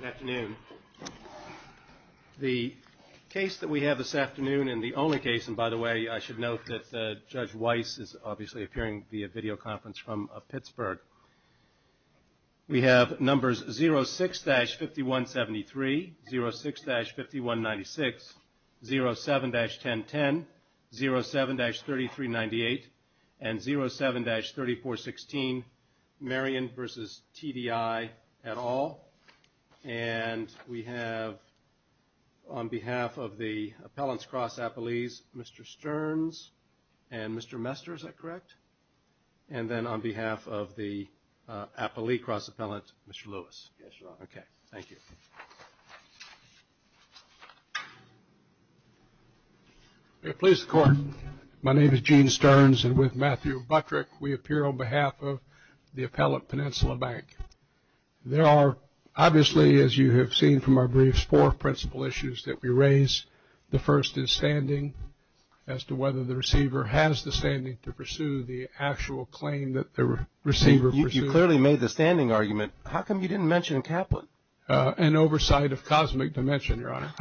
Good afternoon. The case that we have this afternoon and the only case, and by the way, I should note that Judge Weiss is obviously appearing via video conference from Pittsburgh. We have numbers 06-5173, 06-5196, 07-1010, 07-3398, and 07-3416, Marion v. TDI, and 07-3197. And we have on behalf of the Appellant's Cross Appellees, Mr. Stearns and Mr. Mester, is that correct? And then on behalf of the Appellee Cross Appellant, Mr. Lewis. Yes, Your Honor. Okay, thank you. May it please the Court, my name is Gene Stearns, and with Matthew Buttrick, we appear on behalf of the Appellant, Peninsula Bank. There are obviously, as you have seen from our briefs, four principal issues that we raise. The first is standing, as to whether the receiver has the standing to pursue the actual claim that the receiver pursued. You clearly made the standing argument. How come you didn't mention Kaplan? An oversight of cosmic dimension, Your Honor.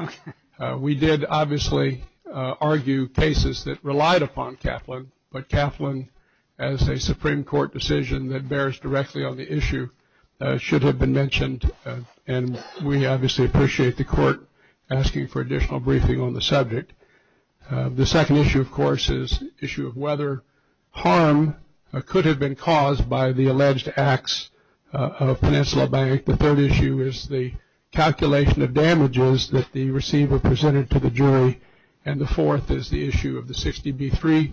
We did obviously argue cases that relied upon Kaplan, but Kaplan, as a Supreme Court decision that bears directly on the issue, should have been mentioned. And we obviously appreciate the Court asking for additional briefing on the subject. The second issue, of course, is the issue of whether harm could have been caused by the alleged acts of Peninsula Bank. The third issue is the calculation of damages that the receiver presented to the jury. And the fourth is the issue of the 60B3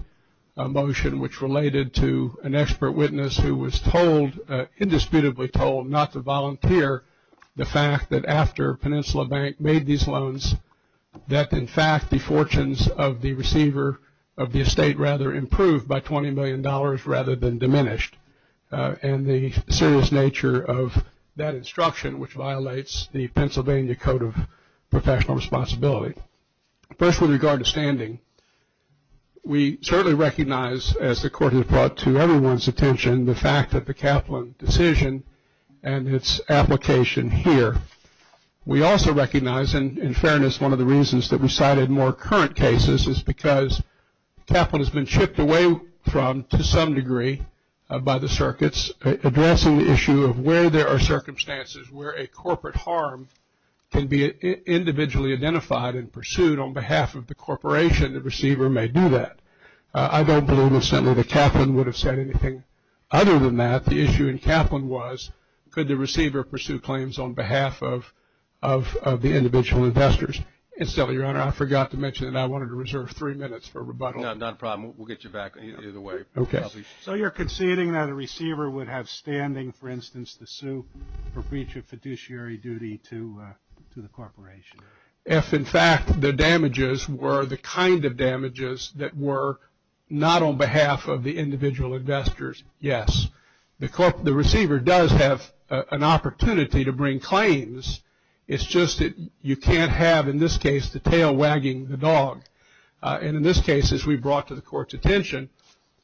motion, which related to an expert witness who was told, indisputably told, not to volunteer the fact that after Peninsula Bank made these loans, that in fact the fortunes of the receiver of the estate rather improved by $20 million rather than diminished. And the serious nature of that instruction, which violates the Pennsylvania Code of Professional Responsibility. First, with regard to standing, we certainly recognize, as the Court has brought to everyone's attention, the fact that the Kaplan decision and its application here. We also recognize, and in fairness, one of the reasons that we cited more current cases, because Kaplan has been chipped away from, to some degree, by the circuits, addressing the issue of where there are circumstances where a corporate harm can be individually identified and pursued on behalf of the corporation, the receiver may do that. I don't believe, incidentally, that Kaplan would have said anything other than that. The issue in Kaplan was, could the receiver pursue claims on behalf of the individual investors? And so, Your Honor, I forgot to mention that I wanted to reserve three minutes for rebuttal. No, not a problem. We'll get you back either way. Okay. So you're conceding that a receiver would have standing, for instance, to sue for breach of fiduciary duty to the corporation? If, in fact, the damages were the kind of damages that were not on behalf of the individual investors, yes. The receiver does have an opportunity to bring claims. It's just that you can't have, in this case, the tail wagging the dog. And in this case, as we brought to the Court's attention,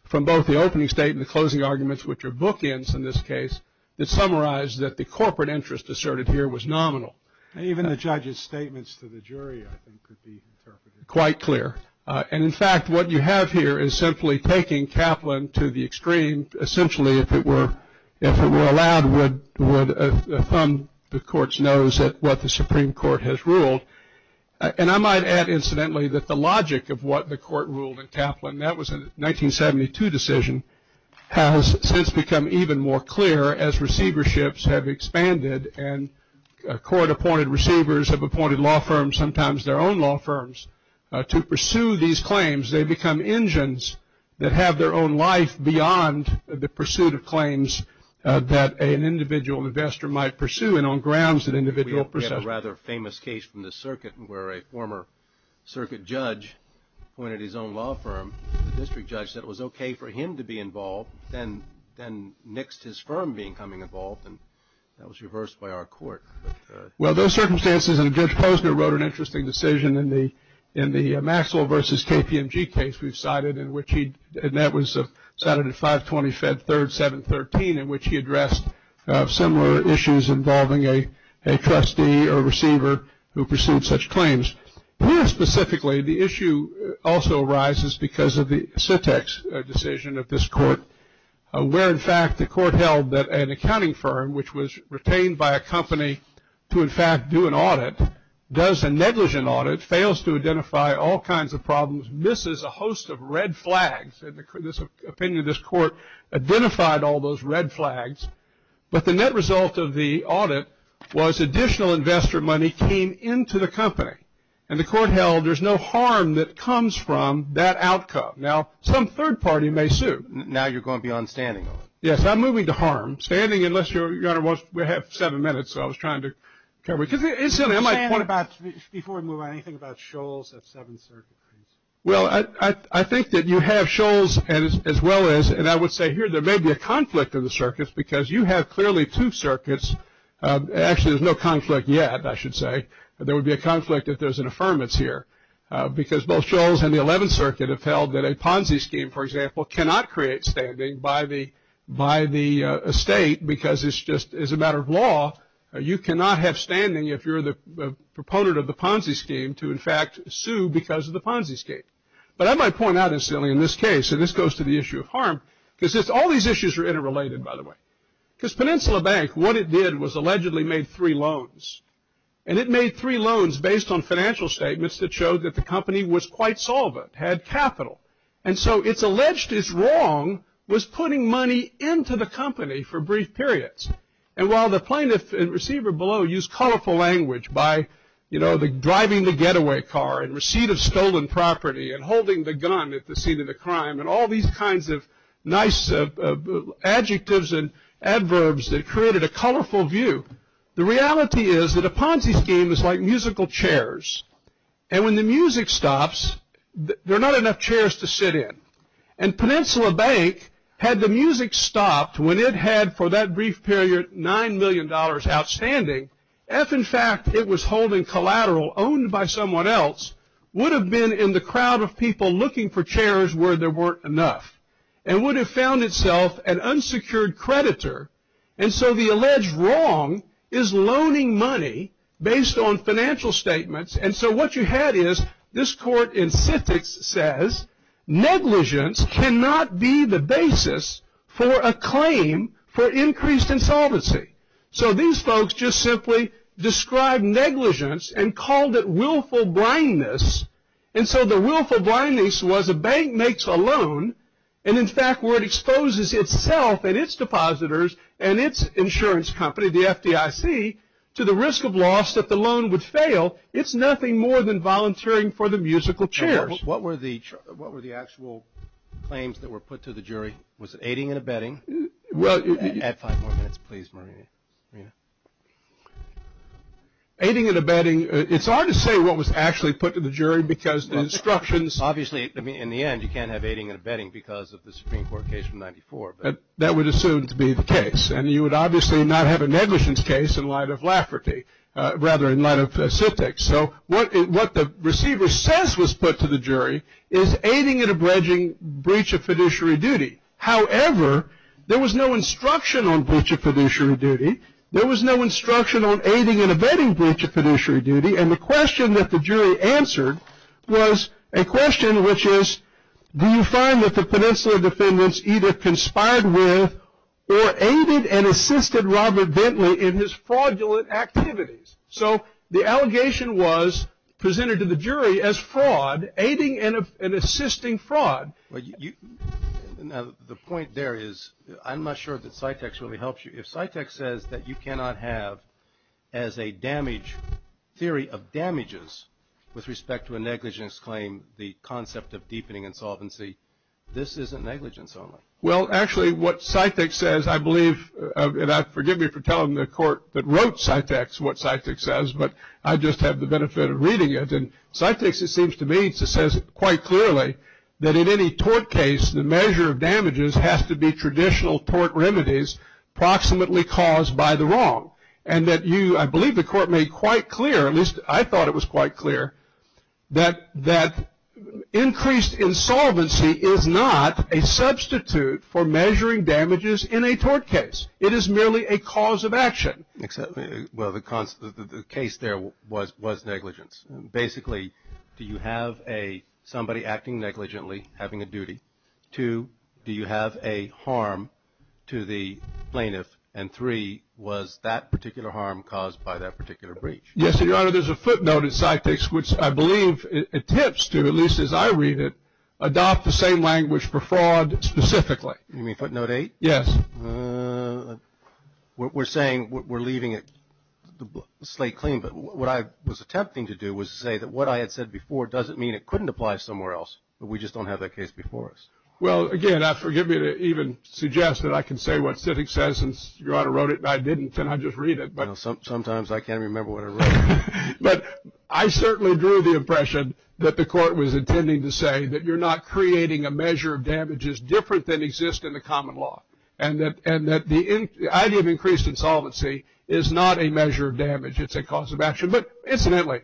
from both the opening statement and the closing arguments, which are bookends in this case, that summarize that the corporate interest asserted here was nominal. And even the judge's statements to the jury, I think, could be interpreted. Quite clear. And, in fact, what you have here is simply taking Kaplan to the extreme. And essentially, if it were allowed, would thumb the Court's nose at what the Supreme Court has ruled. And I might add, incidentally, that the logic of what the Court ruled in Kaplan, that was a 1972 decision, has since become even more clear as receiverships have expanded and court-appointed receivers have appointed law firms, sometimes their own law firms, to pursue these claims. They've become engines that have their own life beyond the pursuit of claims that an individual investor might pursue. And on grounds that individual person. We have a rather famous case from the circuit where a former circuit judge appointed his own law firm. The district judge said it was okay for him to be involved, then nixed his firm being coming involved. And that was reversed by our court. Well, those circumstances, and Judge Posner wrote an interesting decision in the Maxwell versus KPMG case we've cited, and that was cited in 520 Fed 3rd, 713, in which he addressed similar issues involving a trustee or receiver who pursued such claims. More specifically, the issue also arises because of the Sytex decision of this court, where, in fact, the court held that an accounting firm, which was retained by a company to, in fact, do an audit, does a negligent audit, fails to identify all kinds of problems, misses a host of red flags. In this opinion, this court identified all those red flags, but the net result of the audit was additional investor money came into the company, and the court held there's no harm that comes from that outcome. Now, some third party may sue. Now you're going to be on standing. Yes, I'm moving to harm. Standing, unless Your Honor wants, we have seven minutes. I was trying to cover it. What about, before we move on, anything about Shoals at Seventh Circuit? Well, I think that you have Shoals as well as, and I would say here there may be a conflict in the circuits, because you have clearly two circuits. Actually, there's no conflict yet, I should say. There would be a conflict if there's an affirmance here, because both Shoals and the Eleventh Circuit have held that a Ponzi scheme, for example, cannot create standing by the estate because it's just a matter of law. You cannot have standing if you're the proponent of the Ponzi scheme to, in fact, sue because of the Ponzi scheme. But I might point out, incidentally, in this case, and this goes to the issue of harm, because all these issues are interrelated, by the way. Because Peninsula Bank, what it did was allegedly made three loans, and it made three loans based on financial statements that showed that the company was quite solvent, had capital. And so it's alleged its wrong was putting money into the company for brief periods. And while the plaintiff and receiver below used colorful language by, you know, driving the getaway car and receipt of stolen property and holding the gun at the scene of the crime and all these kinds of nice adjectives and adverbs that created a colorful view, the reality is that a Ponzi scheme is like musical chairs. And when the music stops, there are not enough chairs to sit in. And Peninsula Bank, had the music stopped when it had, for that brief period, $9 million outstanding, if, in fact, it was holding collateral owned by someone else, would have been in the crowd of people looking for chairs where there weren't enough and would have found itself an unsecured creditor. And so the alleged wrong is loaning money based on financial statements. And so what you had is this court in Civics says, negligence cannot be the basis for a claim for increased insolvency. So these folks just simply described negligence and called it willful blindness. And so the willful blindness was a bank makes a loan, and in fact where it exposes itself and its depositors and its insurance company, the FDIC, to the risk of loss that the loan would fail, it's nothing more than volunteering for the musical chairs. What were the actual claims that were put to the jury? Was it aiding and abetting? Add five more minutes, please, Marina. Aiding and abetting, it's hard to say what was actually put to the jury because the instructions. Obviously, in the end, you can't have aiding and abetting because of the Supreme Court case from 94. But that would assume to be the case. And you would obviously not have a negligence case in light of Lafferty, rather in light of Civics. So what the receiver says was put to the jury is aiding and abetting breach of fiduciary duty. However, there was no instruction on breach of fiduciary duty. There was no instruction on aiding and abetting breach of fiduciary duty. And the question that the jury answered was a question which is, do you find that the Peninsula defendants either conspired with or aided and assisted Robert Bentley in his fraudulent activities? So the allegation was presented to the jury as fraud, aiding and assisting fraud. The point there is I'm not sure that Cytex really helps you. If Cytex says that you cannot have as a damage theory of damages with respect to a negligence claim the concept of deepening insolvency, this isn't negligence only. Well, actually, what Cytex says, I believe, and forgive me for telling the court that wrote Cytex what Cytex says, but I just have the benefit of reading it. And Cytex, it seems to me, says quite clearly that in any tort case, the measure of damages has to be traditional tort remedies approximately caused by the wrong. And that you, I believe the court made quite clear, at least I thought it was quite clear, that increased insolvency is not a substitute for measuring damages in a tort case. It is merely a cause of action. Well, the case there was negligence. Basically, do you have somebody acting negligently, having a duty? Two, do you have a harm to the plaintiff? And three, was that particular harm caused by that particular breach? Yes, Your Honor, there's a footnote in Cytex which I believe attempts to, at least as I read it, adopt the same language for fraud specifically. You mean footnote eight? Yes. We're saying we're leaving a slate clean, but what I was attempting to do was to say that what I had said before doesn't mean it couldn't apply somewhere else, but we just don't have that case before us. Well, again, forgive me to even suggest that I can say what Cytex says, and Your Honor wrote it and I didn't, and I just read it. Sometimes I can't remember what I wrote. But I certainly drew the impression that the court was intending to say that you're not creating a measure of damages different than exists in the common law. And that the idea of increased insolvency is not a measure of damage. It's a cause of action. But incidentally,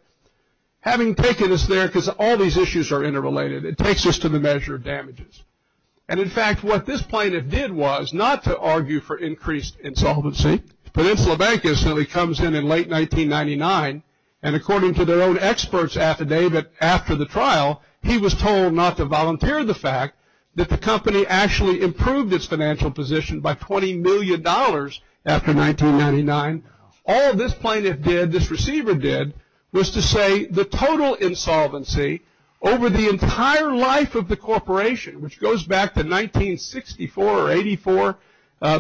having taken us there, because all these issues are interrelated, it takes us to the measure of damages. And, in fact, what this plaintiff did was not to argue for increased insolvency. Peninsula Bank incidentally comes in in late 1999, and according to their own expert's affidavit after the trial, he was told not to volunteer the fact that the company actually improved its financial position by $20 million after 1999. All this plaintiff did, this receiver did, was to say the total insolvency over the entire life of the corporation, which goes back to 1964 or 84,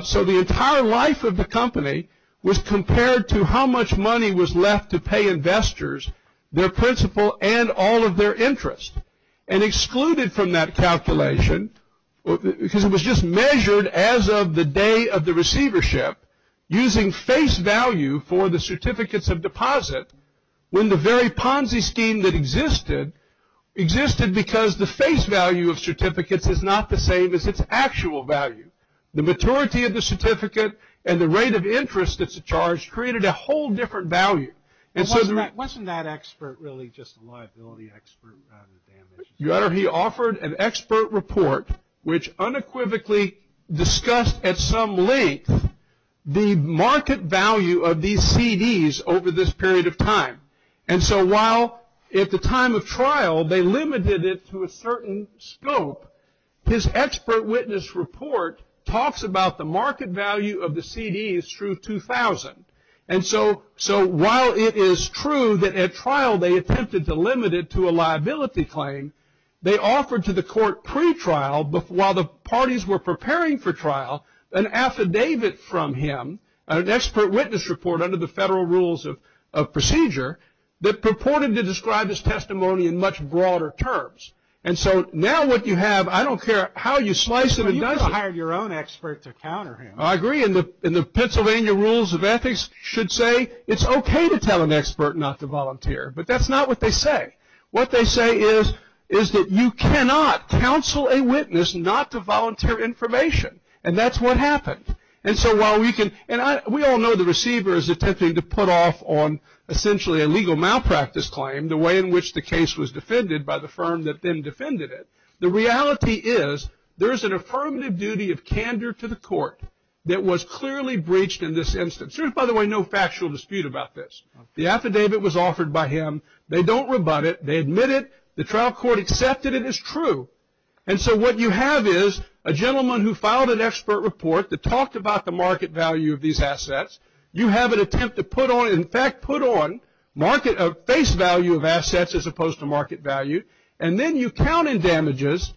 so the entire life of the company was compared to how much money was left to pay investors, their principal, and all of their interest. And excluded from that calculation, because it was just measured as of the day of the receivership, using face value for the certificates of deposit, when the very Ponzi scheme that existed, existed because the face value of certificates is not the same as its actual value. The maturity of the certificate and the rate of interest that's charged created a whole different value. Wasn't that expert really just a liability expert? He offered an expert report which unequivocally discussed at some length the market value of these CDs over this period of time. And so while at the time of trial they limited it to a certain scope, his expert witness report talks about the market value of the CDs through 2000. And so while it is true that at trial they attempted to limit it to a liability claim, they offered to the court pre-trial, while the parties were preparing for trial, an affidavit from him, an expert witness report under the federal rules of procedure, that purported to describe his testimony in much broader terms. And so now what you have, I don't care how you slice it and dice it. You could have hired your own expert to counter him. I agree. And the Pennsylvania rules of ethics should say it's okay to tell an expert not to volunteer. But that's not what they say. What they say is that you cannot counsel a witness not to volunteer information. And that's what happened. And so while we can, and we all know the receiver is attempting to put off on essentially a legal malpractice claim, the way in which the case was defended by the firm that then defended it. The reality is there's an affirmative duty of candor to the court that was clearly breached in this instance. There's, by the way, no factual dispute about this. The affidavit was offered by him. They don't rebut it. They admit it. The trial court accepted it as true. And so what you have is a gentleman who filed an expert report that talked about the market value of these assets. You have an attempt to put on, in fact, put on face value of assets as opposed to market value. And then you count in damages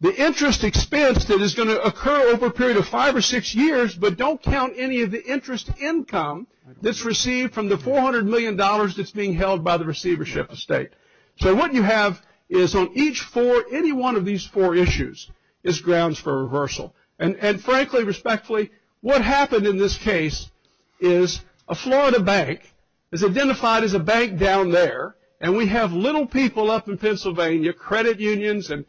the interest expense that is going to occur over a period of five or six years, but don't count any of the interest income that's received from the $400 million that's being held by the receivership estate. So what you have is on each four, any one of these four issues is grounds for reversal. And frankly, respectfully, what happened in this case is a Florida bank is identified as a bank down there, and we have little people up in Pennsylvania, credit unions and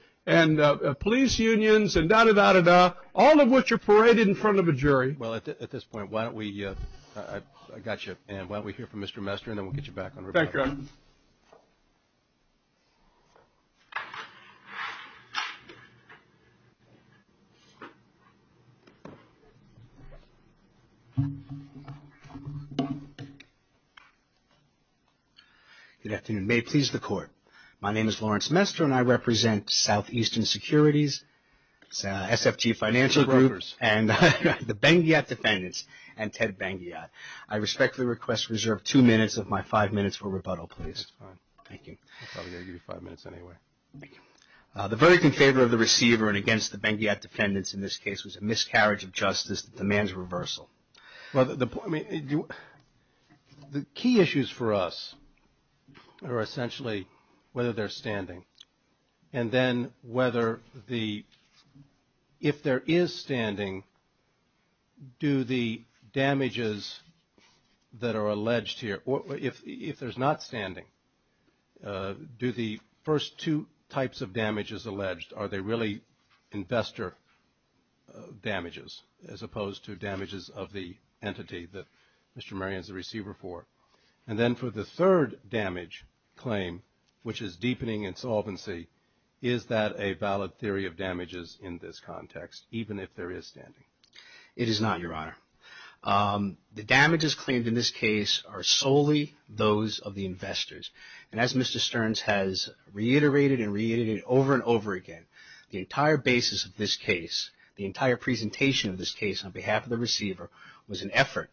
police unions and da-da-da-da-da, all of which are paraded in front of a jury. Well, at this point, why don't we – I got you. And why don't we hear from Mr. Mester, and then we'll get you back on record. Thank you. Good afternoon. May it please the Court. My name is Lawrence Mester, and I represent Southeastern Securities. It's an SFT financial group. And the Ben-Ghiat defendants and Ted Ben-Ghiat. I respectfully request reserve two minutes of my five minutes for rebuttal, please. That's fine. Thank you. I'm probably going to give you five minutes anyway. Thank you. The verdict in favor of the receiver and against the Ben-Ghiat defendants in this case was a miscarriage of justice that demands reversal. I mean, the key issues for us are essentially whether they're standing. And then whether the – if there is standing, do the damages that are alleged here – if there's not standing, do the first two types of damages alleged, are they really investor damages as opposed to damages of the entity that Mr. Merian is a receiver for? And then for the third damage claim, which is deepening insolvency, is that a valid theory of damages in this context, even if there is standing? It is not, Your Honor. The damages claimed in this case are solely those of the investors. And as Mr. Stearns has reiterated and reiterated over and over again, the entire basis of this case, the entire presentation of this case on behalf of the receiver was an effort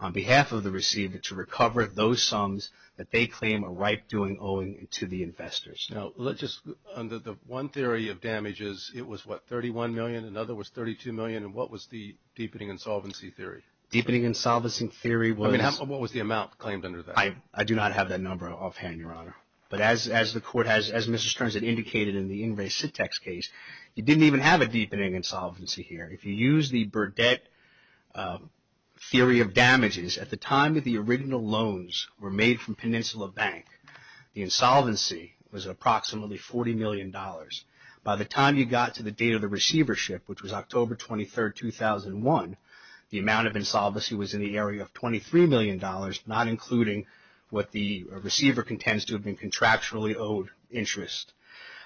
on behalf of the receiver to recover those sums that they claim a right doing owing to the investors. Now, let's just – under the one theory of damages, it was, what, $31 million? Another was $32 million. And what was the deepening insolvency theory? Deepening insolvency theory was – I mean, what was the amount claimed under that? I do not have that number offhand, Your Honor. But as the Court has – as Mr. Stearns had indicated in the In Re Sitex case, you didn't even have a deepening insolvency here. If you use the Burdett theory of damages, at the time that the original loans were made from Peninsula Bank, the insolvency was approximately $40 million. By the time you got to the date of the receivership, which was October 23, 2001, the amount of insolvency was in the area of $23 million, not including what the receiver contends to have been contractually owed interest.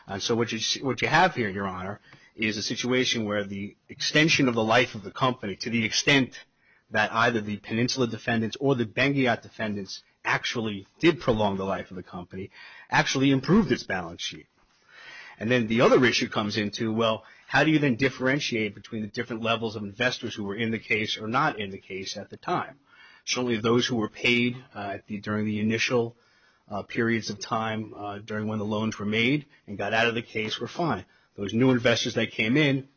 And so what you have here, Your Honor, is a situation where the extension of the life of the company, to the extent that either the Peninsula defendants or the Bengayat defendants actually did prolong the life of the company, actually improved its balance sheet. And then the other issue comes into, well, how do you then differentiate between the different levels of investors who were in the case or not in the case at the time? Certainly those who were paid during the initial periods of time during when the loans were made and got out of the case were fine. Those new investors that came in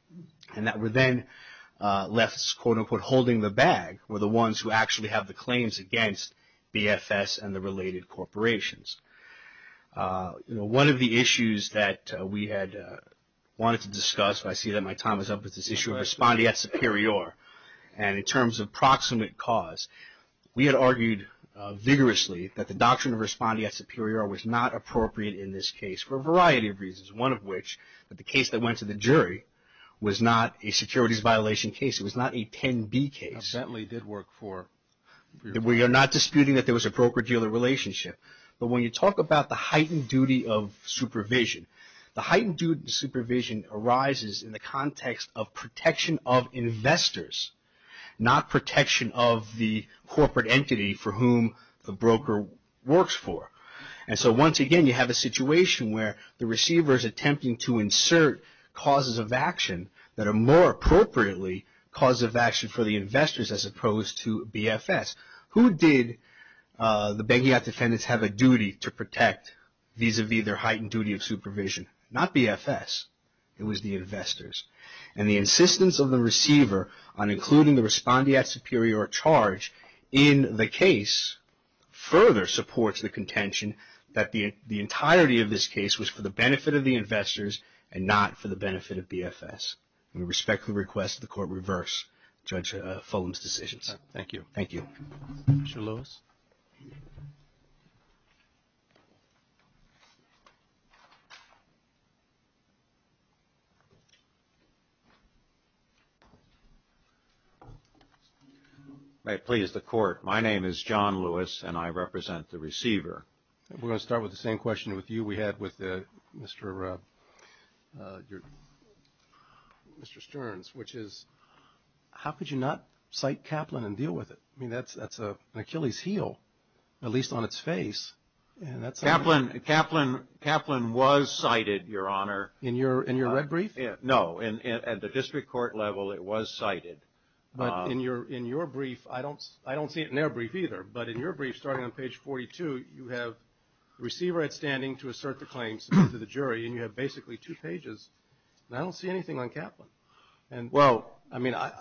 and that were then left, quote-unquote, holding the bag were the ones who actually have the claims against BFS and the related corporations. One of the issues that we had wanted to discuss, I see that my time is up with this issue, and in terms of proximate cause, we had argued vigorously that the doctrine of respondeat superior was not appropriate in this case for a variety of reasons. One of which, that the case that went to the jury was not a securities violation case. It was not a 10B case. We are not disputing that there was a broker-dealer relationship. But when you talk about the heightened duty of supervision, the heightened duty of supervision arises in the context of protection of investors, not protection of the corporate entity for whom the broker works for. And so once again, you have a situation where the receiver is attempting to insert causes of action that are more appropriately causes of action for the investors as opposed to BFS. Who did the bankiat defendants have a duty to protect vis-a-vis their heightened duty of supervision? Not BFS. It was the investors. And the insistence of the receiver on including the respondeat superior charge in the case further supports the contention that the entirety of this case was for the benefit of the investors and not for the benefit of BFS. We respectfully request the court reverse Judge Fulham's decisions. Thank you. Mr. Lewis. May it please the court, my name is John Lewis and I represent the receiver. We're going to start with the same question with you we had with Mr. Stearns, which is how could you not cite Kaplan and deal with it? I mean that's an Achilles heel, at least on its face. Kaplan was cited, Your Honor. In your red brief? No, at the district court level it was cited. But in your brief, I don't see it in their brief either, but in your brief starting on page 42 you have the receiver at standing to assert the claims to the jury and you have basically two pages and I don't see anything on Kaplan. Well, I mean, I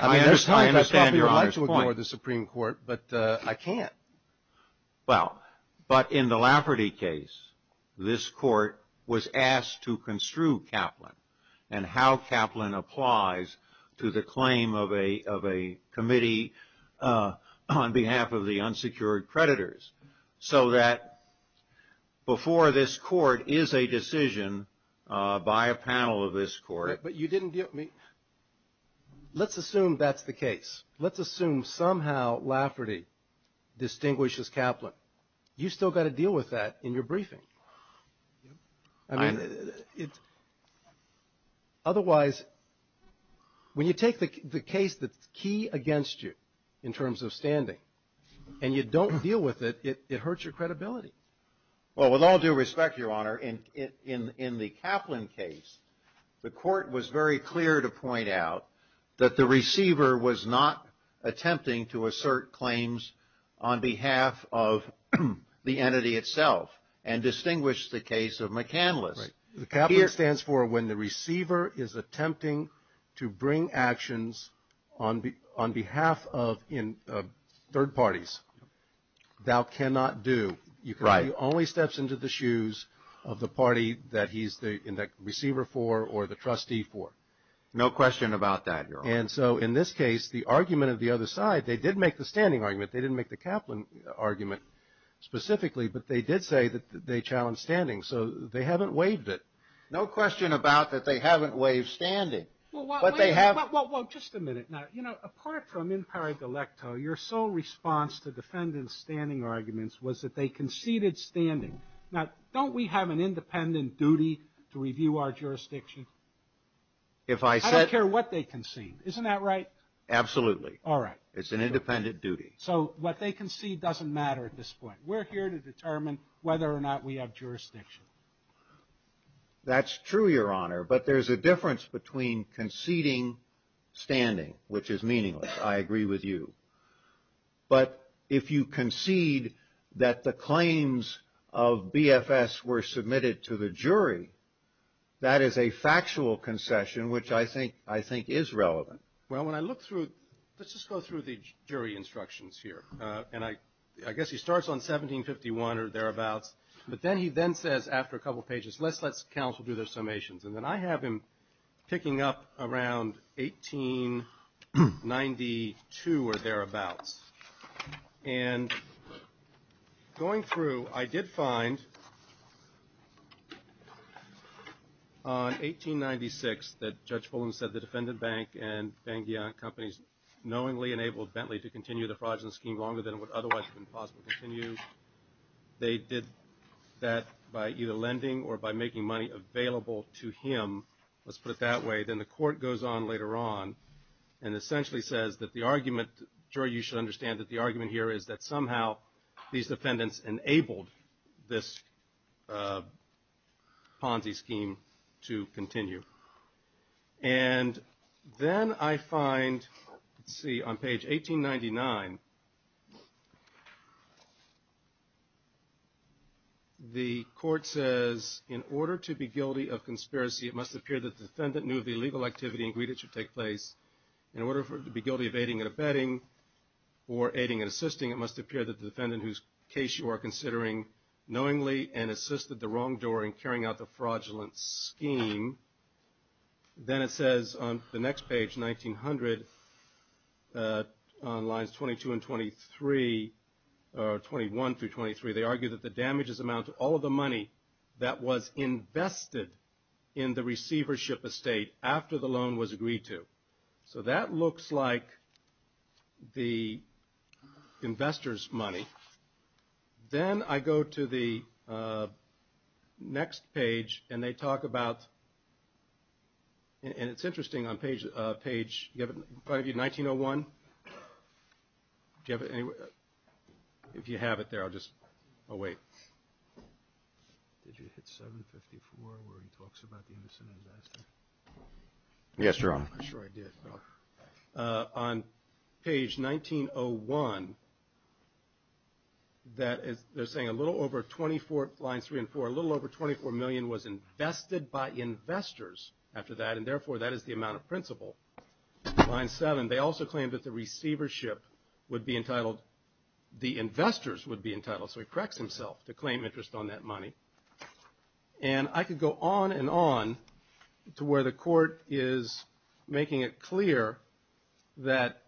understand your point. I'd like to ignore the Supreme Court, but I can't. Well, but in the Lafferty case, this court was asked to construe Kaplan and how Kaplan applies to the claim of a committee on behalf of the unsecured creditors so that before this court is a decision by a panel of this court. But you didn't deal with me. Let's assume that's the case. Let's assume somehow Lafferty distinguishes Kaplan. You've still got to deal with that in your briefing. I mean, otherwise when you take the case that's key against you in terms of standing and you don't deal with it, it hurts your credibility. Well, with all due respect, Your Honor, in the Kaplan case, the court was very clear to point out that the receiver was not attempting to assert claims on behalf of the entity itself and distinguished the case of McCandless. The Kaplan stands for when the receiver is attempting to bring actions on behalf of third parties. Thou cannot do. Right. Because he only steps into the shoes of the party that he's the receiver for or the trustee for. No question about that, Your Honor. And so in this case, the argument of the other side, they did make the standing argument. They didn't make the Kaplan argument specifically, but they did say that they challenged standing. So they haven't waived it. No question about that. They haven't waived standing. Well, just a minute now. You know, apart from in paragalecto, your sole response to defendants' standing arguments was that they conceded standing. Now, don't we have an independent duty to review our jurisdiction? I don't care what they conceded. Isn't that right? Absolutely. All right. It's an independent duty. So what they concede doesn't matter at this point. We're here to determine whether or not we have jurisdiction. That's true, Your Honor. But there's a difference between conceding standing, which is meaningless. I agree with you. But if you concede that the claims of BFS were submitted to the jury, that is a factual concession, which I think is relevant. Well, when I look through, let's just go through the jury instructions here. And I guess he starts on 1751 or thereabouts. But then he then says, after a couple of pages, let's let counsel do their summations. And then I have him picking up around 1892 or thereabouts. And going through, I did find on 1896 that Judge Fullen said the defendant bank and Benghia companies knowingly enabled Bentley to continue the fraudulent scheme longer than it would otherwise have been possible to continue. They did that by either lending or by making money available to him. Let's put it that way. Then the court goes on later on and essentially says that the argument, Jury, you should understand that the argument here is that somehow these defendants enabled this Ponzi scheme to continue. And then I find, let's see, on page 1899, the court says, in order to be guilty of conspiracy, it must appear that the defendant knew of the illegal activity and agreed it should take place. In order to be guilty of aiding and abetting or aiding and assisting, it must appear that the defendant, whose case you are considering, knowingly and assisted the wrongdoer in carrying out the fraudulent scheme. Then it says on the next page, 1900, on lines 22 and 23, or 21 through 23, they argue that the damages amount to all of the money that was invested in the receivership estate after the loan was agreed to. So that looks like the investor's money. Then I go to the next page and they talk about, and it's interesting, on page 1901, if you have it there, I'll just, I'll wait. Did you hit 754 where he talks about the Emerson disaster? Yes, Your Honor. I'm not sure I did. On page 1901, they're saying a little over 24, lines 3 and 4, a little over 24 million was invested by investors after that, and therefore that is the amount of principal. Line 7, they also claim that the receivership would be entitled, the investors would be entitled, so he corrects himself to claim interest on that money. And I could go on and on to where the court is making it clear that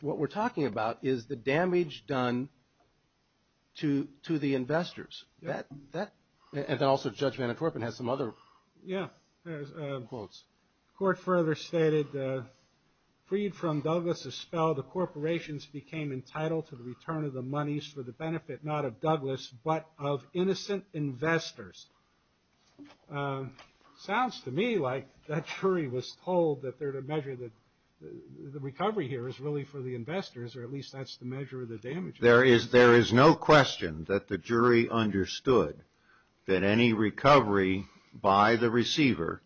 what we're talking about is the damage done to the investors. And also Judge Manatorpin has some other quotes. The court further stated, freed from Douglas' spell, the corporations became entitled to the return of the monies for the benefit not of Douglas but of innocent investors. Sounds to me like that jury was told that the recovery here is really for the investors, or at least that's the measure of the damage. There is no question that the jury understood that any recovery by the receiver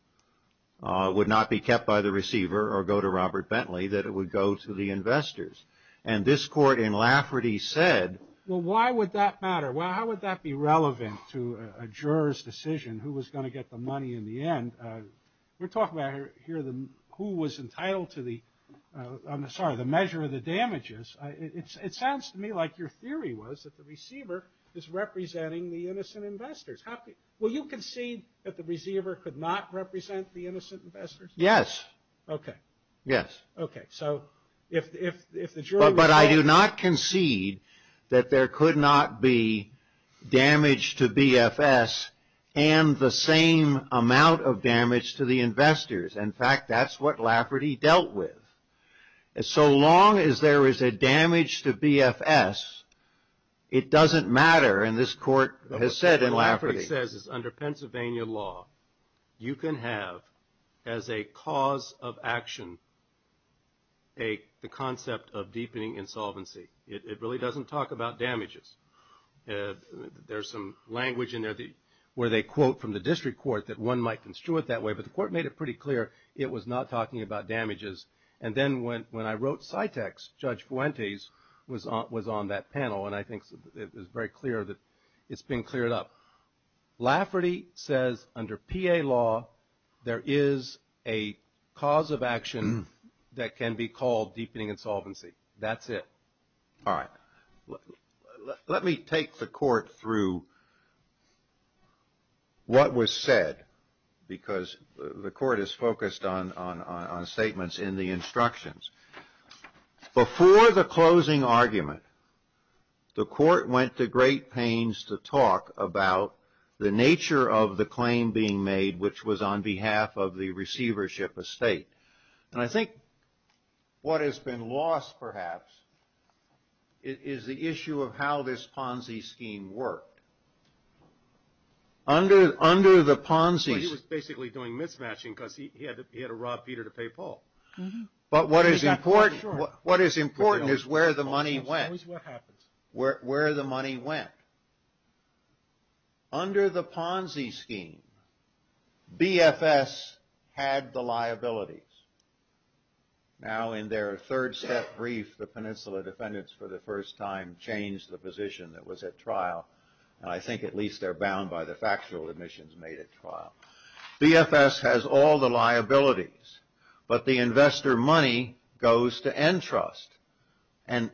would not be kept by the receiver or go to Robert Bentley, that it would go to the investors. And this court in Lafferty said. Well, why would that matter? How would that be relevant to a juror's decision who was going to get the money in the end? We're talking about here who was entitled to the measure of the damages. It sounds to me like your theory was that the receiver is representing the innocent investors. Will you concede that the receiver could not represent the innocent investors? Yes. Okay. Yes. Okay. But I do not concede that there could not be damage to BFS and the same amount of damage to the investors. In fact, that's what Lafferty dealt with. So long as there is a damage to BFS, it doesn't matter, and this court has said in Lafferty. What Lafferty says is under Pennsylvania law, you can have as a cause of action the concept of deepening insolvency. It really doesn't talk about damages. There's some language in there where they quote from the district court that one might construe it that way, but the court made it pretty clear it was not talking about damages. And then when I wrote Cytex, Judge Fuentes was on that panel, and I think it was very clear that it's been cleared up. Lafferty says under PA law, there is a cause of action that can be called deepening insolvency. That's it. All right. Let me take the court through what was said because the court is focused on statements in the instructions. Before the closing argument, the court went to great pains to talk about the nature of the claim being made, which was on behalf of the receivership estate. And I think what has been lost, perhaps, is the issue of how this Ponzi scheme worked. Under the Ponzi scheme. He was basically doing mismatching because he had to rob Peter to pay Paul. But what is important is where the money went. Where the money went. Under the Ponzi scheme, BFS had the liabilities. Now in their third set brief, the Peninsula defendants for the first time changed the position that was at trial. And I think at least they're bound by the factual admissions made at trial. BFS has all the liabilities. But the investor money goes to Entrust. And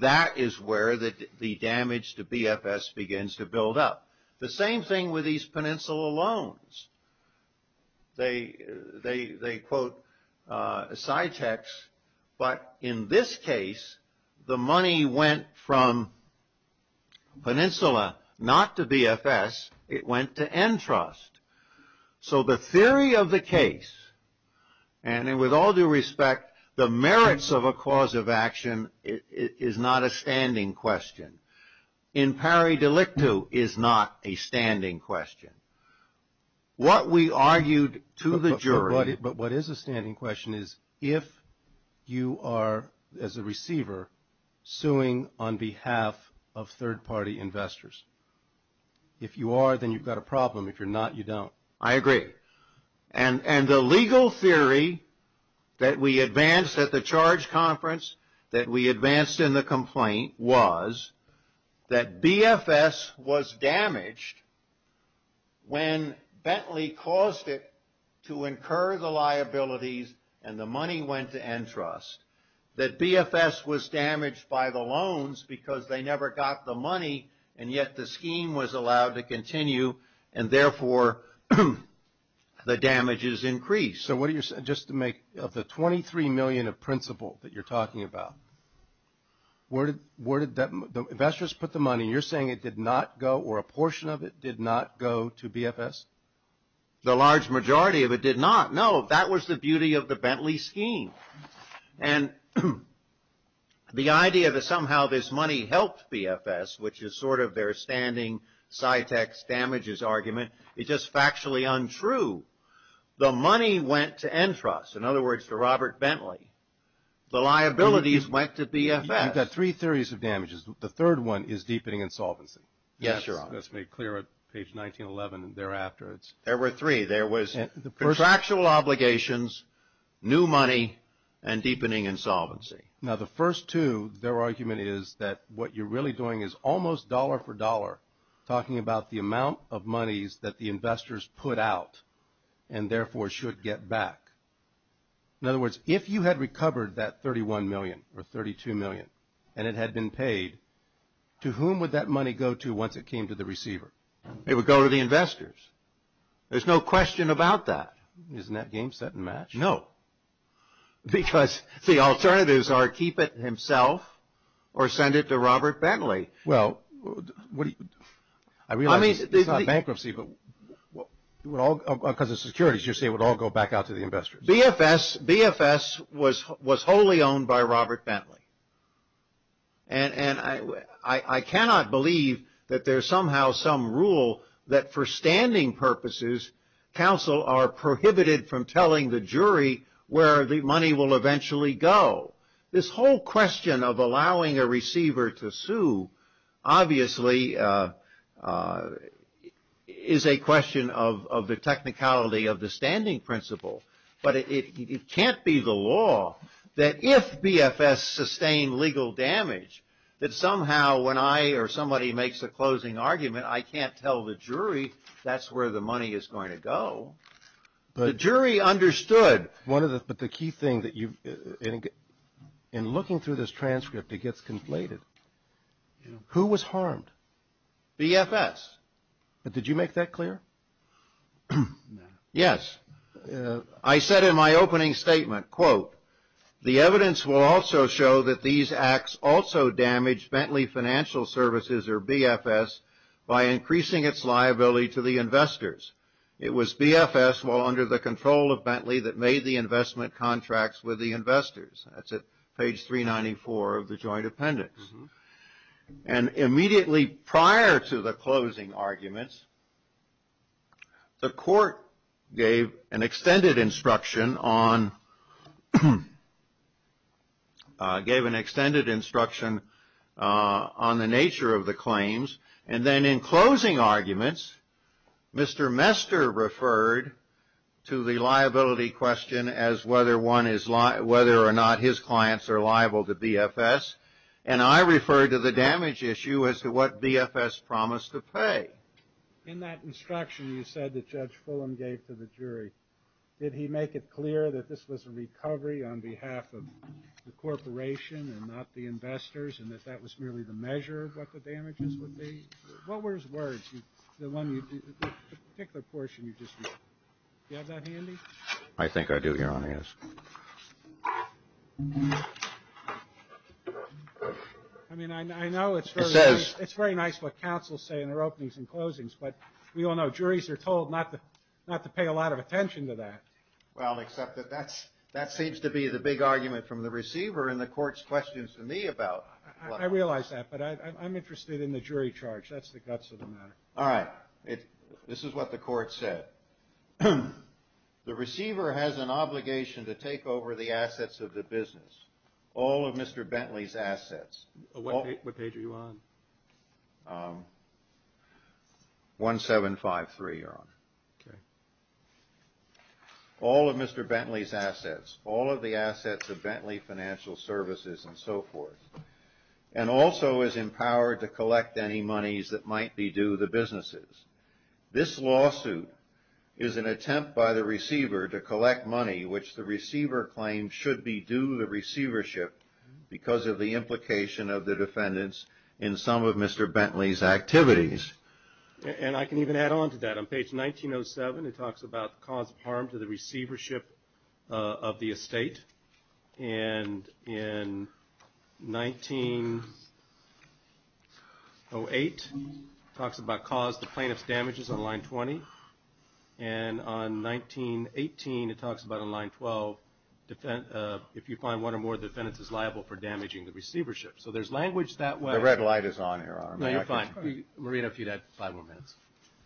that is where the damage to BFS begins to build up. The same thing with these Peninsula loans. They quote Citex, but in this case, the money went from Peninsula not to BFS. It went to Entrust. So the theory of the case, and with all due respect, the merits of a cause of action is not a standing question. In pari delicto is not a standing question. What we argued to the jury. But what is a standing question is if you are, as a receiver, suing on behalf of third party investors. If you are, then you've got a problem. If you're not, you don't. I agree. And the legal theory that we advanced at the charge conference, that we advanced in the complaint, was that BFS was damaged when Bentley caused it to incur the liabilities and the money went to Entrust. That BFS was damaged by the loans because they never got the money and yet the scheme was allowed to continue and therefore the damages increased. So what do you, just to make, of the 23 million of principal that you're talking about, where did that, the investors put the money and you're saying it did not go or a portion of it did not go to BFS? The large majority of it did not. No, that was the beauty of the Bentley scheme. And the idea that somehow this money helped BFS, which is sort of their standing Cytex damages argument, is just factually untrue. The money went to Entrust. In other words, to Robert Bentley. The liabilities went to BFS. You've got three theories of damages. The third one is deepening insolvency. Yes, Your Honor. That's made clear at page 1911 and thereafter. There were three. Contractual obligations, new money, and deepening insolvency. Now, the first two, their argument is that what you're really doing is almost dollar for dollar, talking about the amount of monies that the investors put out and therefore should get back. In other words, if you had recovered that 31 million or 32 million and it had been paid, to whom would that money go to once it came to the receiver? It would go to the investors. There's no question about that. Isn't that game set and match? No. Because the alternatives are keep it himself or send it to Robert Bentley. Well, I realize it's not bankruptcy, but because of securities, you're saying it would all go back out to the investors. BFS was wholly owned by Robert Bentley. And I cannot believe that there's somehow some rule that for standing purposes, counsel are prohibited from telling the jury where the money will eventually go. This whole question of allowing a receiver to sue, obviously, is a question of the technicality of the standing principle. But it can't be the law that if BFS sustained legal damage, that somehow when I or somebody makes a closing argument, I can't tell the jury that's where the money is going to go. The jury understood. But the key thing, in looking through this transcript, it gets conflated. Who was harmed? BFS. Did you make that clear? Yes. I said in my opening statement, quote, the evidence will also show that these acts also damaged Bentley Financial Services, or BFS, by increasing its liability to the investors. It was BFS, while under the control of Bentley, that made the investment contracts with the investors. That's at page 394 of the joint appendix. And immediately prior to the closing arguments, the court gave an extended instruction on the nature of the claims. And then in closing arguments, Mr. Mester referred to the liability question as whether or not his clients are liable to BFS. And I referred to the damage issue as to what BFS promised to pay. But in that instruction you said that Judge Fulham gave to the jury, did he make it clear that this was a recovery on behalf of the corporation and not the investors, and that that was merely the measure of what the damages would be? What were his words? The particular portion you just read, do you have that handy? I think I do, Your Honor, yes. I mean, I know it's very nice what counsels say in their openings and closings, but we all know juries are told not to pay a lot of attention to that. Well, except that that seems to be the big argument from the receiver and the court's questions to me about... I realize that, but I'm interested in the jury charge. That's the guts of the matter. All right. This is what the court said. The receiver has an obligation to take over the assets of the business, all of Mr. Bentley's assets. What page are you on? 1753, Your Honor. All of Mr. Bentley's assets, all of the assets of Bentley Financial Services and so forth, and also is empowered to collect any monies that might be due the businesses. This lawsuit is an attempt by the receiver to collect money which the receiver claims should be due the receivership because of the implication of the defendants in some of Mr. Bentley's activities. And I can even add on to that. On page 1907, it talks about the cause of harm to the receivership of the estate, and in 1908, it talks about caused the plaintiff's damages on line 20, and on 1918, it talks about on line 12, if you find one or more defendants is liable for damaging the receivership. So there's language that way. The red light is on here, Your Honor. No, you're fine. Marina, if you'd have five more minutes.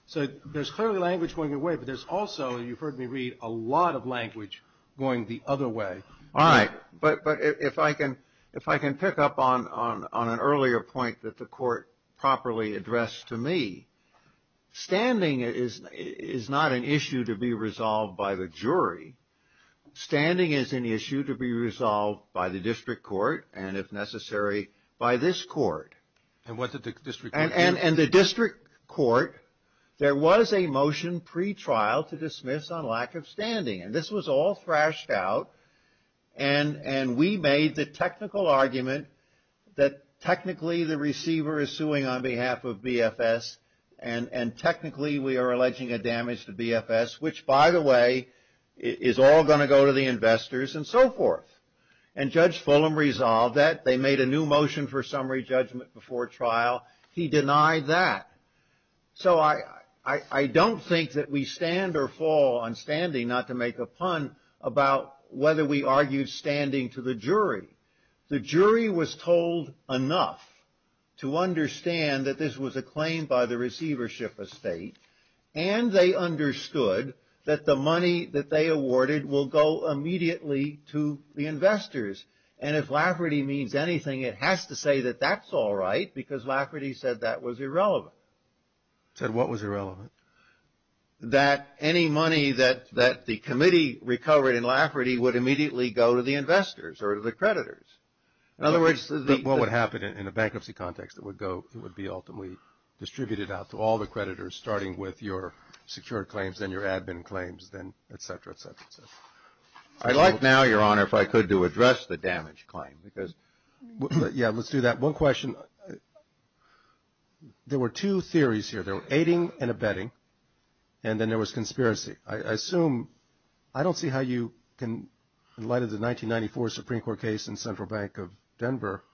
So there's clearly language going your way, but there's also, you've heard me read, a lot of language going the other way. All right. But if I can pick up on an earlier point that the court properly addressed to me, standing is not an issue to be resolved by the jury. Standing is an issue to be resolved by the district court, and if necessary, by this court. And what did the district court do? And the district court, there was a motion pre-trial to dismiss on lack of standing, and this was all thrashed out, and we made the technical argument that technically the receiver is suing on behalf of BFS, and technically we are alleging a damage to BFS, which by the way is all going to go to the investors and so forth. And Judge Fulham resolved that. They made a new motion for summary judgment before trial. He denied that. So I don't think that we stand or fall on standing, not to make a pun, about whether we argue standing to the jury. The jury was told enough to understand that this was a claim by the receivership estate, and they understood that the money that they awarded will go immediately to the investors. And if Lafferty means anything, it has to say that that's all right, because Lafferty said that was irrelevant. Said what was irrelevant? That any money that the committee recovered in Lafferty would immediately go to the investors or to the creditors. In other words, the... What would happen in a bankruptcy context? It would go, it would be ultimately distributed out to all the creditors, starting with your secured claims, then your admin claims, then et cetera, et cetera, et cetera. I'd like now, Your Honor, if I could to address the damage claim, because... Yeah, let's do that. One question. There were two theories here. There were aiding and abetting, and then there was conspiracy. I assume, I don't see how you can, in light of the 1994 Supreme Court case in Central Bank of Denver,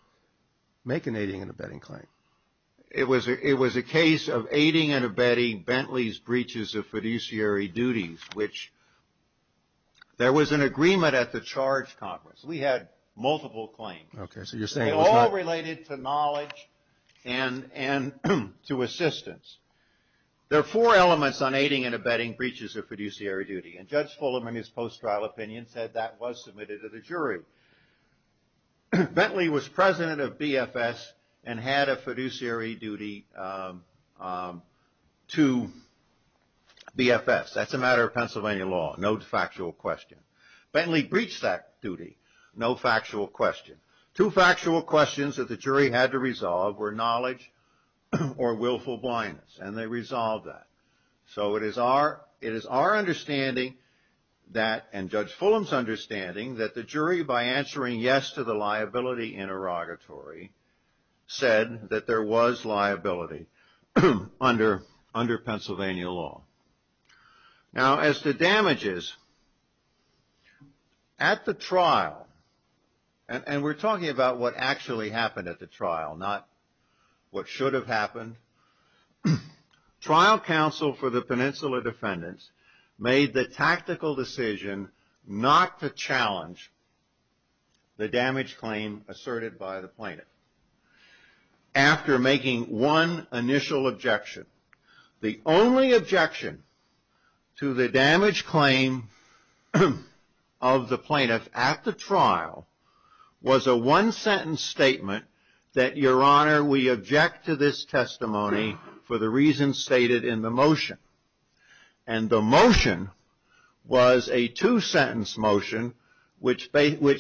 make an aiding and abetting claim. It was a case of aiding and abetting Bentley's breaches of fiduciary duties, which there was an agreement at the charge conference. We had multiple claims. Okay, so you're saying it was not... They all related to knowledge and to assistance. There are four elements on aiding and abetting breaches of fiduciary duty, and Judge Fulham, in his post-trial opinion, said that was submitted to the jury. Bentley was president of BFS and had a fiduciary duty to BFS. That's a matter of Pennsylvania law, no factual question. Bentley breached that duty, no factual question. Two factual questions that the jury had to resolve were knowledge or willful blindness, and they resolved that. So it is our understanding that, and Judge Fulham's understanding, that the jury, by answering yes to the liability interrogatory, said that there was liability under Pennsylvania law. Now, as to damages, at the trial, and we're talking about what actually happened at the trial, not what should have happened, trial counsel for the Peninsula defendants made the tactical decision not to challenge the damage claim asserted by the plaintiff. After making one initial objection, the only objection to the damage claim of the plaintiff at the trial was a one-sentence statement that, Your Honor, we object to this testimony for the reasons stated in the motion. And the motion was a two-sentence motion, which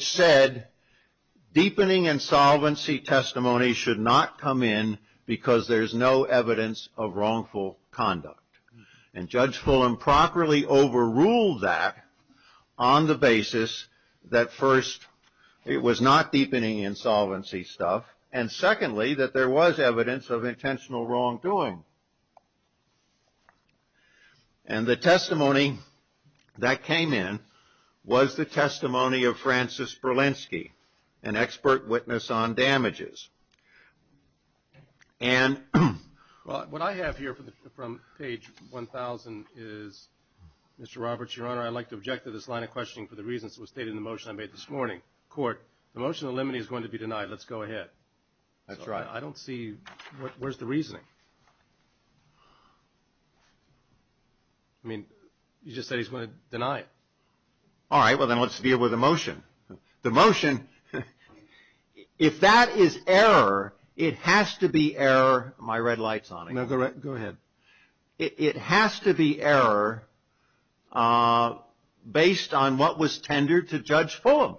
said deepening insolvency testimony should not come in because there's no evidence of wrongful conduct. And Judge Fulham properly overruled that on the basis that, first, it was not deepening insolvency stuff, and secondly, that there was evidence of intentional wrongdoing. And the testimony that came in was the testimony of Francis Berlinski, an expert witness on damages. And what I have here from page 1,000 is, Mr. Roberts, Your Honor, I'd like to object to this line of questioning for the reasons stated in the motion I made this morning. Court, the motion to eliminate is going to be denied. Let's go ahead. That's right. I don't see, where's the reasoning? I mean, you just said he's going to deny it. All right. Well, then let's deal with the motion. The motion, if that is error, it has to be error. My red light's on. No, go ahead. It has to be error based on what was tendered to Judge Fulham.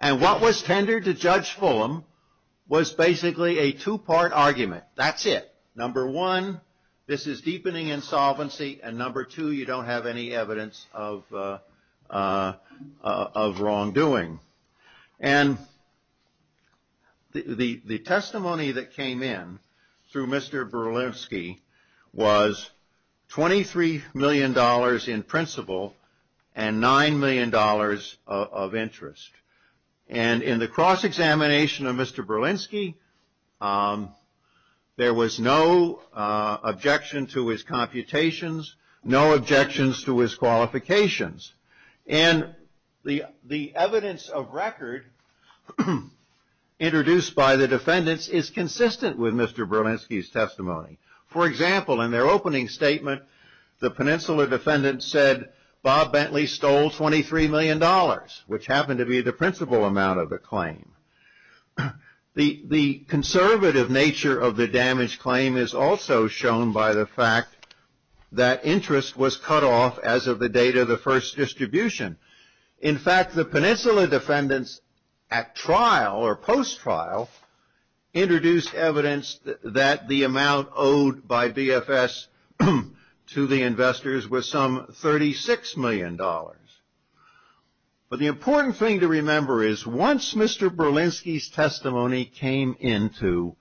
And what was tendered to Judge Fulham was basically a two-part argument. That's it. Number one, this is deepening insolvency. And number two, you don't have any evidence of wrongdoing. And the testimony that came in through Mr. Berlinski was $23 million in principal and $9 million of interest. And in the cross-examination of Mr. Berlinski, there was no objection to his computations, no objections to his qualifications. And the evidence of record introduced by the defendants is consistent with Mr. Berlinski's testimony. For example, in their opening statement, the Peninsula defendant said, Bob Bentley stole $23 million, which happened to be the principal amount of the claim. The conservative nature of the damaged claim is also shown by the fact that interest was cut off as of the date of the first distribution. In fact, the Peninsula defendants at trial or post-trial introduced evidence that the amount owed by BFS to the investors was some $36 million. But the important thing to remember is once Mr. Berlinski's testimony came into,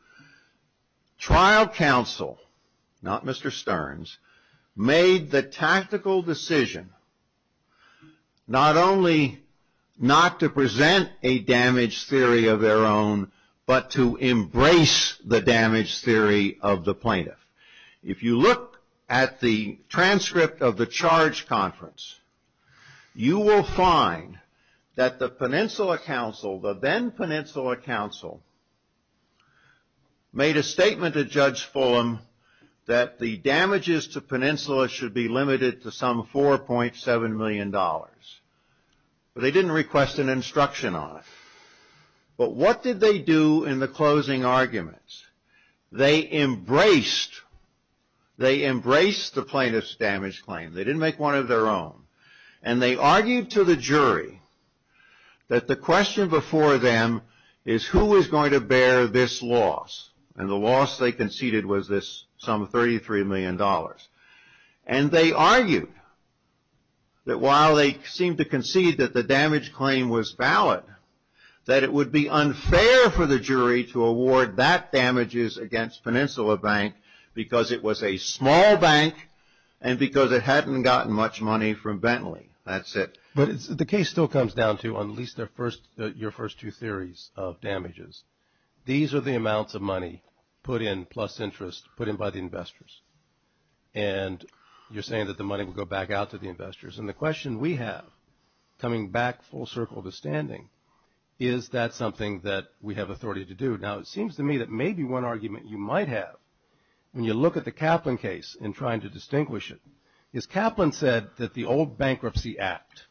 trial counsel, not Mr. Stearns, made the tactical decision not only not to present a damaged theory of their own, but to embrace the damaged theory of the plaintiff. If you look at the transcript of the charge conference, you will find that the Peninsula counsel, the then Peninsula counsel, made a statement to Judge Fulham that the damages to Peninsula should be limited to some $4.7 million. But they didn't request an instruction on it. But what did they do in the closing arguments? They embraced the plaintiff's damaged claim. They didn't make one of their own. And they argued to the jury that the question before them is who is going to bear this loss? And the loss they conceded was this sum of $33 million. And they argued that while they seemed to concede that the damaged claim was valid, that it would be unfair for the jury to award that damages against Peninsula Bank because it was a small bank and because it hadn't gotten much money from Bentley. That's it. But the case still comes down to at least your first two theories of damages. These are the amounts of money put in plus interest put in by the investors. And you're saying that the money will go back out to the investors. And the question we have, coming back full circle to standing, is that something that we have authority to do? Now, it seems to me that maybe one argument you might have when you look at the Kaplan case and trying to distinguish it is Kaplan said that the old Bankruptcy Act,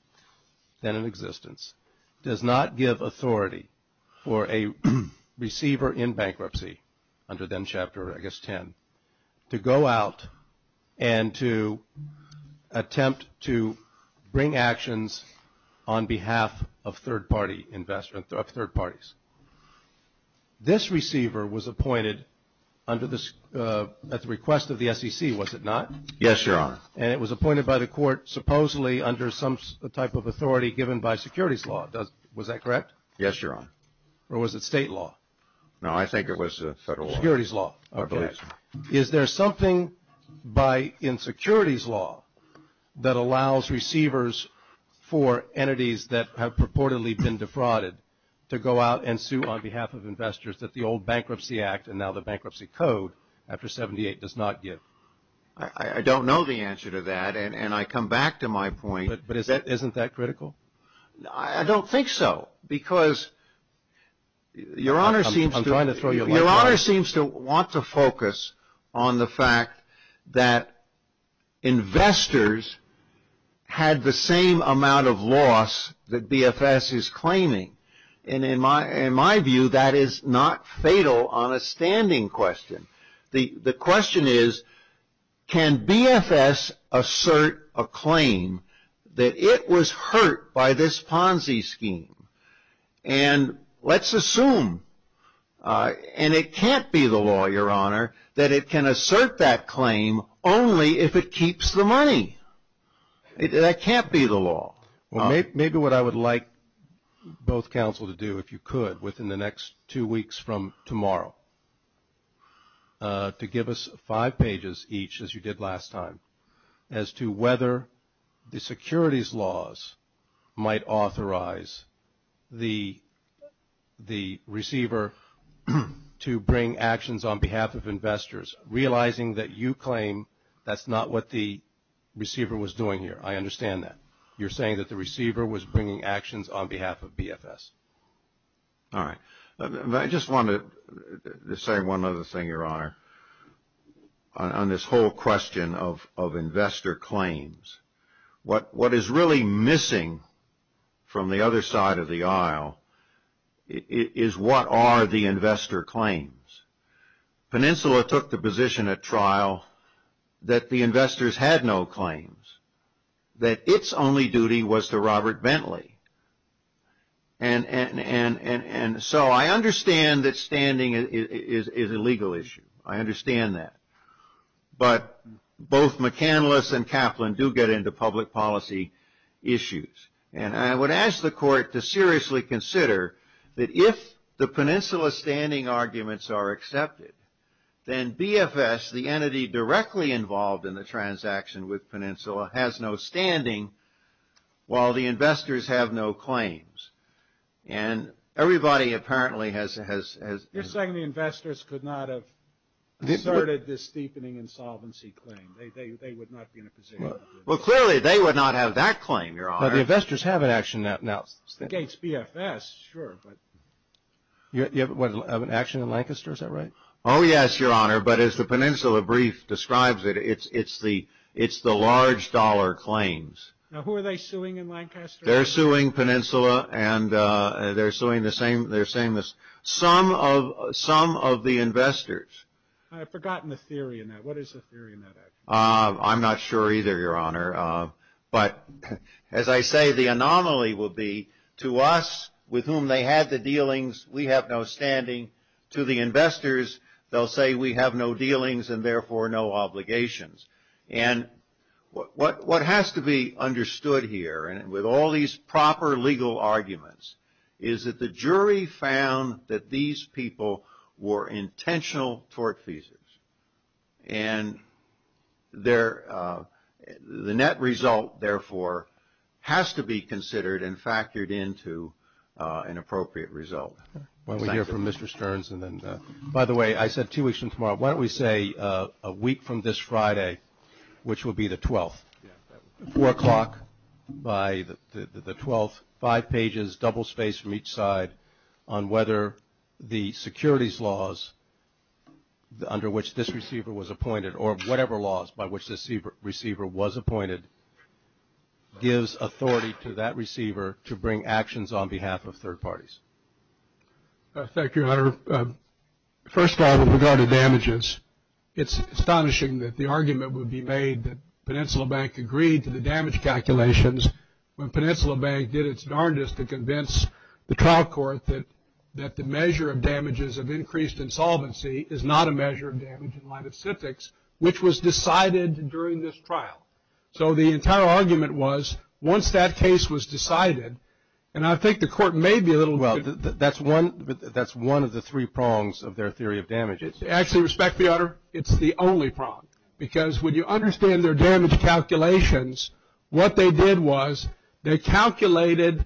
then in existence, does not give authority for a receiver in bankruptcy under then Chapter, I guess, 10, to go out and to attempt to bring actions on behalf of third-party investors, of third parties. This receiver was appointed at the request of the SEC, was it not? Yes, Your Honor. And it was appointed by the court supposedly under some type of authority given by securities law. Was that correct? Yes, Your Honor. Or was it state law? No, I think it was federal law. Securities law. Okay. Is there something by insecurities law that allows receivers for entities that have purportedly been defrauded to go out and sue on behalf of investors that the old Bankruptcy Act, and now the Bankruptcy Code, after 78, does not give? I don't know the answer to that. And I come back to my point. But isn't that critical? I don't think so. Because Your Honor seems to. I'm trying to throw you a line. Your Honor seems to want to focus on the fact that investors had the same amount of loss that BFS is claiming. And in my view, that is not fatal on a standing question. The question is, can BFS assert a claim that it was hurt by this Ponzi scheme? And let's assume, and it can't be the law, Your Honor, that it can assert that claim only if it keeps the money. That can't be the law. Maybe what I would like both counsel to do, if you could, within the next two weeks from tomorrow, to give us five pages each, as you did last time, as to whether the securities laws might authorize the receiver to bring actions on behalf of investors, realizing that you claim that's not what the receiver was doing here. I understand that. You're saying that the receiver was bringing actions on behalf of BFS. All right. I just want to say one other thing, Your Honor, on this whole question of investor claims. What is really missing from the other side of the aisle is what are the investor claims. Peninsula took the position at trial that the investors had no claims, that its only duty was to Robert Bentley. And so I understand that standing is a legal issue. I understand that. But both McCandless and Kaplan do get into public policy issues. And I would ask the Court to seriously consider that if the Peninsula standing arguments are accepted, then BFS, the entity directly involved in the transaction with Peninsula, has no standing while the investors have no claims. And everybody apparently has. You're saying the investors could not have asserted this deepening insolvency claim. They would not be in a position to do that. Well, clearly they would not have that claim, Your Honor. But the investors have an action now. Against BFS, sure, but. You have an action in Lancaster, is that right? Oh, yes, Your Honor. But as the Peninsula brief describes it, it's the large dollar claims. Now, who are they suing in Lancaster? They're suing Peninsula, and they're suing some of the investors. I've forgotten the theory in that. What is the theory in that action? I'm not sure either, Your Honor. But as I say, the anomaly will be to us, with whom they had the dealings, we have no standing. To the investors, they'll say we have no dealings and, therefore, no obligations. And what has to be understood here, and with all these proper legal arguments, is that the jury found that these people were intentional tortfeasors. And the net result, therefore, has to be considered and factored into an appropriate result. Why don't we hear from Mr. Stearns. By the way, I said two weeks from tomorrow. Why don't we say a week from this Friday, which will be the 12th, 4 o'clock by the 12th, five pages, double-spaced from each side, on whether the securities laws under which this receiver was appointed or whatever laws by which this receiver was appointed gives authority to that receiver to bring actions on behalf of third parties. Thank you, Your Honor. First of all, with regard to damages, it's astonishing that the argument would be made that Peninsula Bank agreed to the damage calculations when Peninsula Bank did its darndest to convince the trial court that the measure of damages of increased insolvency is not a measure of damage in light of civics, which was decided during this trial. So the entire argument was once that case was decided, and I think the court may be a little bit. Well, that's one of the three prongs of their theory of damages. Actually, respect me, Your Honor, it's the only prong. Because when you understand their damage calculations, what they did was they calculated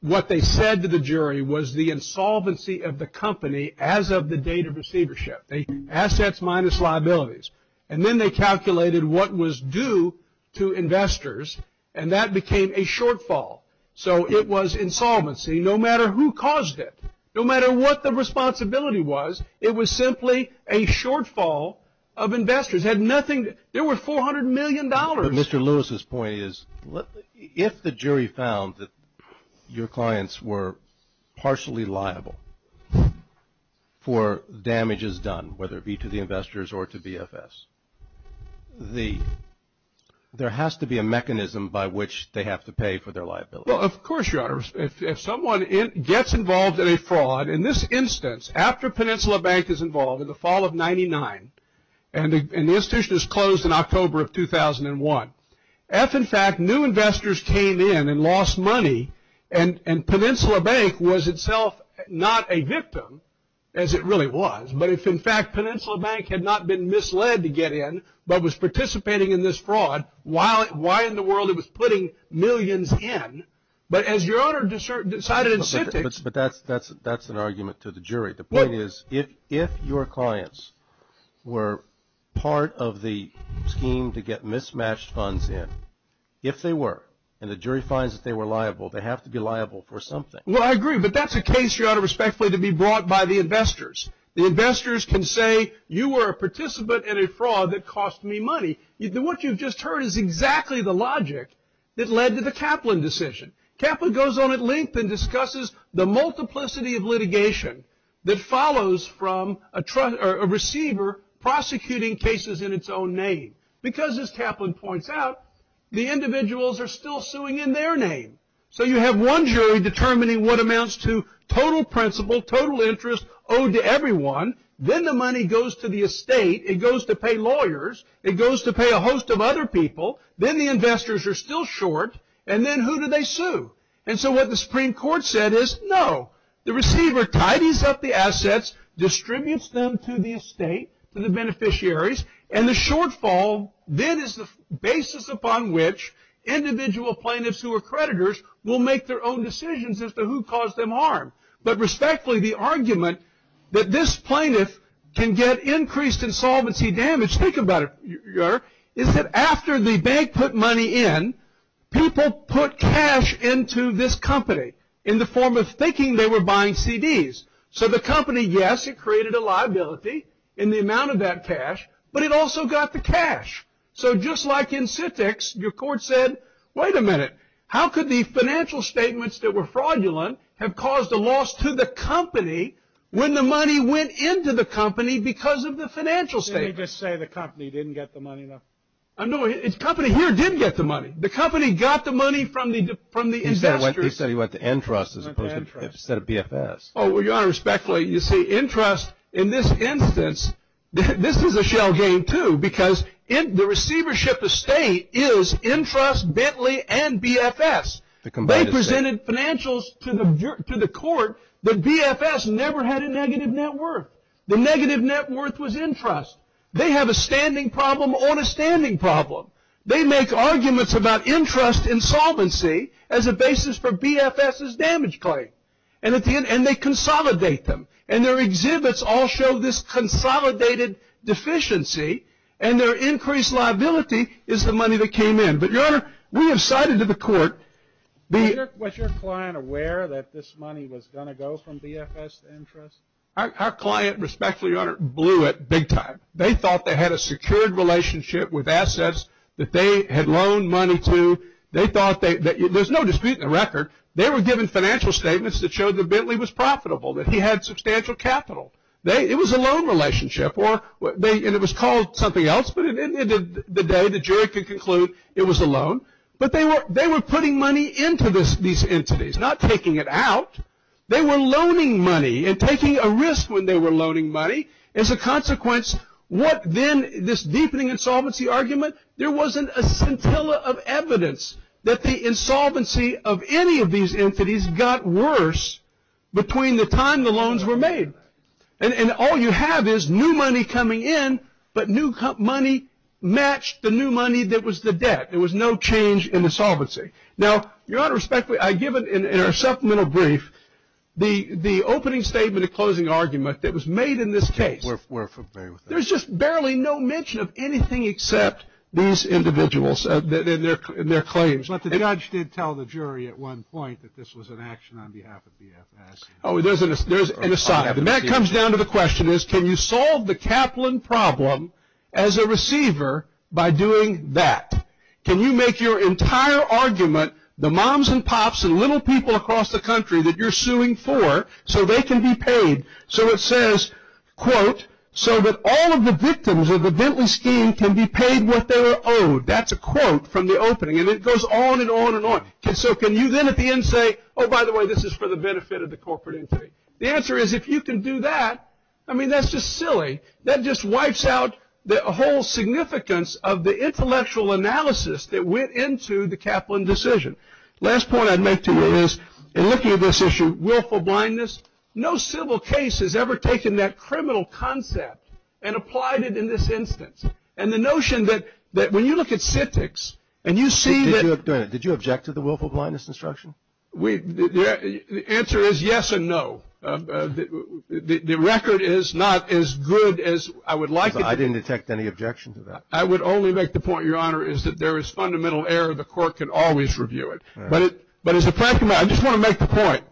what they said to the jury was the insolvency of the company as of the date of receivership, assets minus liabilities. And then they calculated what was due to investors, and that became a shortfall. So it was insolvency no matter who caused it. No matter what the responsibility was, it was simply a shortfall of investors. There were $400 million. But Mr. Lewis's point is if the jury found that your clients were partially liable for damages done, whether it be to the investors or to BFS, there has to be a mechanism by which they have to pay for their liability. Well, of course, Your Honor. If someone gets involved in a fraud, in this instance, after Peninsula Bank is involved in the fall of 99 and the institution is closed in October of 2001, if in fact new investors came in and lost money and Peninsula Bank was itself not a victim, as it really was, but if in fact Peninsula Bank had not been misled to get in, but was participating in this fraud, why in the world it was putting millions in? But as Your Honor decided in Citrix. But that's an argument to the jury. The point is if your clients were part of the scheme to get mismatched funds in, if they were, and the jury finds that they were liable, they have to be liable for something. Well, I agree. But that's a case, Your Honor, respectfully, to be brought by the investors. The investors can say you were a participant in a fraud that cost me money. What you've just heard is exactly the logic that led to the Kaplan decision. Kaplan goes on at length and discusses the multiplicity of litigation that follows from a receiver prosecuting cases in its own name. Because, as Kaplan points out, the individuals are still suing in their name. So you have one jury determining what amounts to total principal, total interest owed to everyone. Then the money goes to the estate. It goes to pay lawyers. It goes to pay a host of other people. Then the investors are still short, and then who do they sue? And so what the Supreme Court said is no. The receiver tidies up the assets, distributes them to the estate, to the beneficiaries, and the shortfall then is the basis upon which individual plaintiffs who are creditors will make their own decisions as to who caused them harm. But respectfully, the argument that this plaintiff can get increased insolvency damage, think about it, Your Honor, is that after the bank put money in, people put cash into this company in the form of thinking they were buying CDs. So the company, yes, it created a liability in the amount of that cash, but it also got the cash. So just like in SITX, your court said, wait a minute, how could the financial statements that were fraudulent have caused a loss to the company when the money went into the company because of the financial statements? Didn't he just say the company didn't get the money enough? No, the company here did get the money. The company got the money from the investors. He said he went to Entrust instead of BFS. Oh, well, Your Honor, respectfully, you see, Entrust in this instance, this is a shell game too because the receivership estate is Entrust, Bentley, and BFS. They presented financials to the court, but BFS never had a negative net worth. The negative net worth was Entrust. They have a standing problem on a standing problem. They make arguments about Entrust insolvency as a basis for BFS's damage claim. And they consolidate them. And their exhibits all show this consolidated deficiency, and their increased liability is the money that came in. But, Your Honor, we have cited to the court the- Was your client aware that this money was going to go from BFS to Entrust? Our client, respectfully, Your Honor, blew it big time. They thought they had a secured relationship with assets that they had loaned money to. There's no dispute in the record. They were given financial statements that showed that Bentley was profitable, that he had substantial capital. It was a loan relationship, and it was called something else, but at the end of the day, the jury could conclude it was a loan. But they were putting money into these entities, not taking it out. They were loaning money and taking a risk when they were loaning money. As a consequence, what then, this deepening insolvency argument, there wasn't a scintilla of evidence that the insolvency of any of these entities got worse between the time the loans were made. And all you have is new money coming in, but new money matched the new money that was the debt. There was no change in insolvency. Now, Your Honor, respectfully, I give it in our supplemental brief, the opening statement and closing argument that was made in this case. There's just barely no mention of anything except these individuals and their claims. But the judge did tell the jury at one point that this was an action on behalf of BFS. Oh, there's an aside. And that comes down to the question is, can you solve the Kaplan problem as a receiver by doing that? Can you make your entire argument, the moms and pops and little people across the country that you're suing for, so they can be paid so it says, quote, so that all of the victims of the Bentley scheme can be paid what they were owed? That's a quote from the opening. And it goes on and on and on. So can you then at the end say, oh, by the way, this is for the benefit of the corporate entity? The answer is if you can do that, I mean, that's just silly. That just wipes out the whole significance of the intellectual analysis that went into the Kaplan decision. Last point I'd make to you is, in looking at this issue, willful blindness, no civil case has ever taken that criminal concept and applied it in this instance. And the notion that when you look at citics and you see that. Did you object to the willful blindness instruction? The answer is yes and no. The record is not as good as I would like it to be. I didn't detect any objection to that. I would only make the point, Your Honor, is that there is fundamental error. The court can always review it. But as a practical matter, I just want to make the point,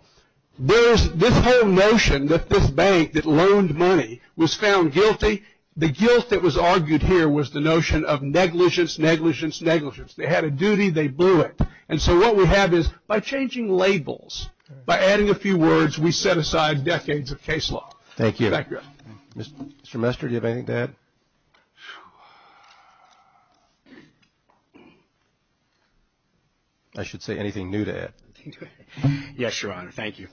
this whole notion that this bank that loaned money was found guilty, the guilt that was argued here was the notion of negligence, negligence, negligence. They had a duty. They blew it. And so what we have is by changing labels, by adding a few words, we set aside decades of case law. Thank you. Mr. Mester, do you have anything to add? I should say anything new to add. Yes, Your Honor. Thank you.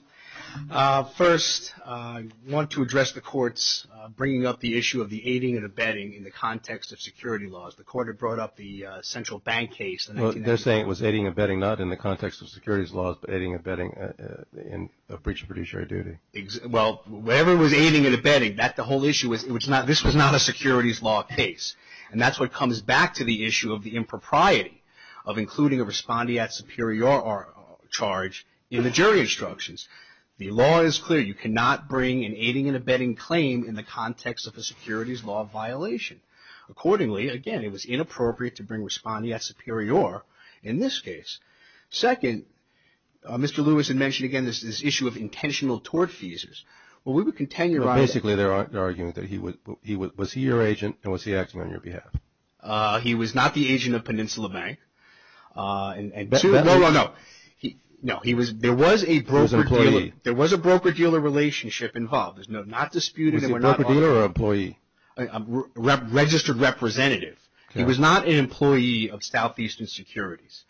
First, I want to address the court's bringing up the issue of the aiding and abetting in the context of security laws. The court had brought up the central bank case. They're saying it was aiding and abetting not in the context of securities laws, but aiding and abetting in the breach of judiciary duty. Well, whatever was aiding and abetting, this was not a securities law case. And that's what comes back to the issue of the impropriety of including a respondeat superior or charge in the jury instructions. The law is clear. You cannot bring an aiding and abetting claim in the context of a securities law violation. Accordingly, again, it was inappropriate to bring respondeat superior in this case. Second, Mr. Lewis had mentioned, again, this issue of intentional tort feasers. Well, we would contend, Your Honor. Basically, they're arguing that he would – was he your agent and was he acting on your behalf? He was not the agent of Peninsula Bank. No, no, no. No, he was – there was a broker-dealer relationship involved. There's no – not disputed. Was he a broker-dealer or an employee? A registered representative. He was not an employee of Southeastern Securities.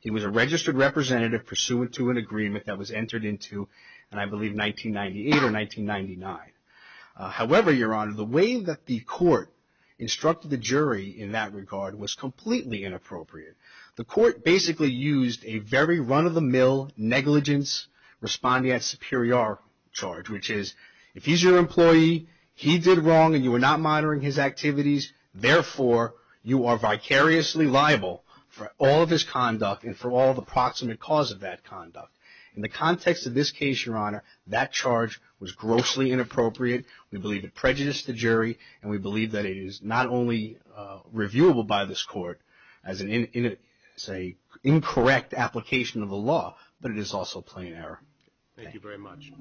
He was a registered representative pursuant to an agreement that was entered into, I believe, 1998 or 1999. However, Your Honor, the way that the court instructed the jury in that regard was completely inappropriate. The court basically used a very run-of-the-mill negligence respondeat superior charge, which is if he's your employee, he did wrong, and you were not monitoring his activities, therefore you are vicariously liable for all of his conduct and for all the proximate cause of that conduct. In the context of this case, Your Honor, that charge was grossly inappropriate. We believe it prejudiced the jury, and we believe that it is not only reviewable by this court as an incorrect application of the law, but it is also plain error. Thank you very much.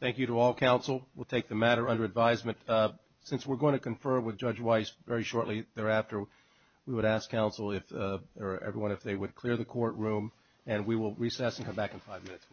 Thank you to all counsel. We'll take the matter under advisement. Since we're going to confer with Judge Weiss very shortly thereafter, we would ask counsel or everyone if they would clear the courtroom, and we will recess and come back in five minutes.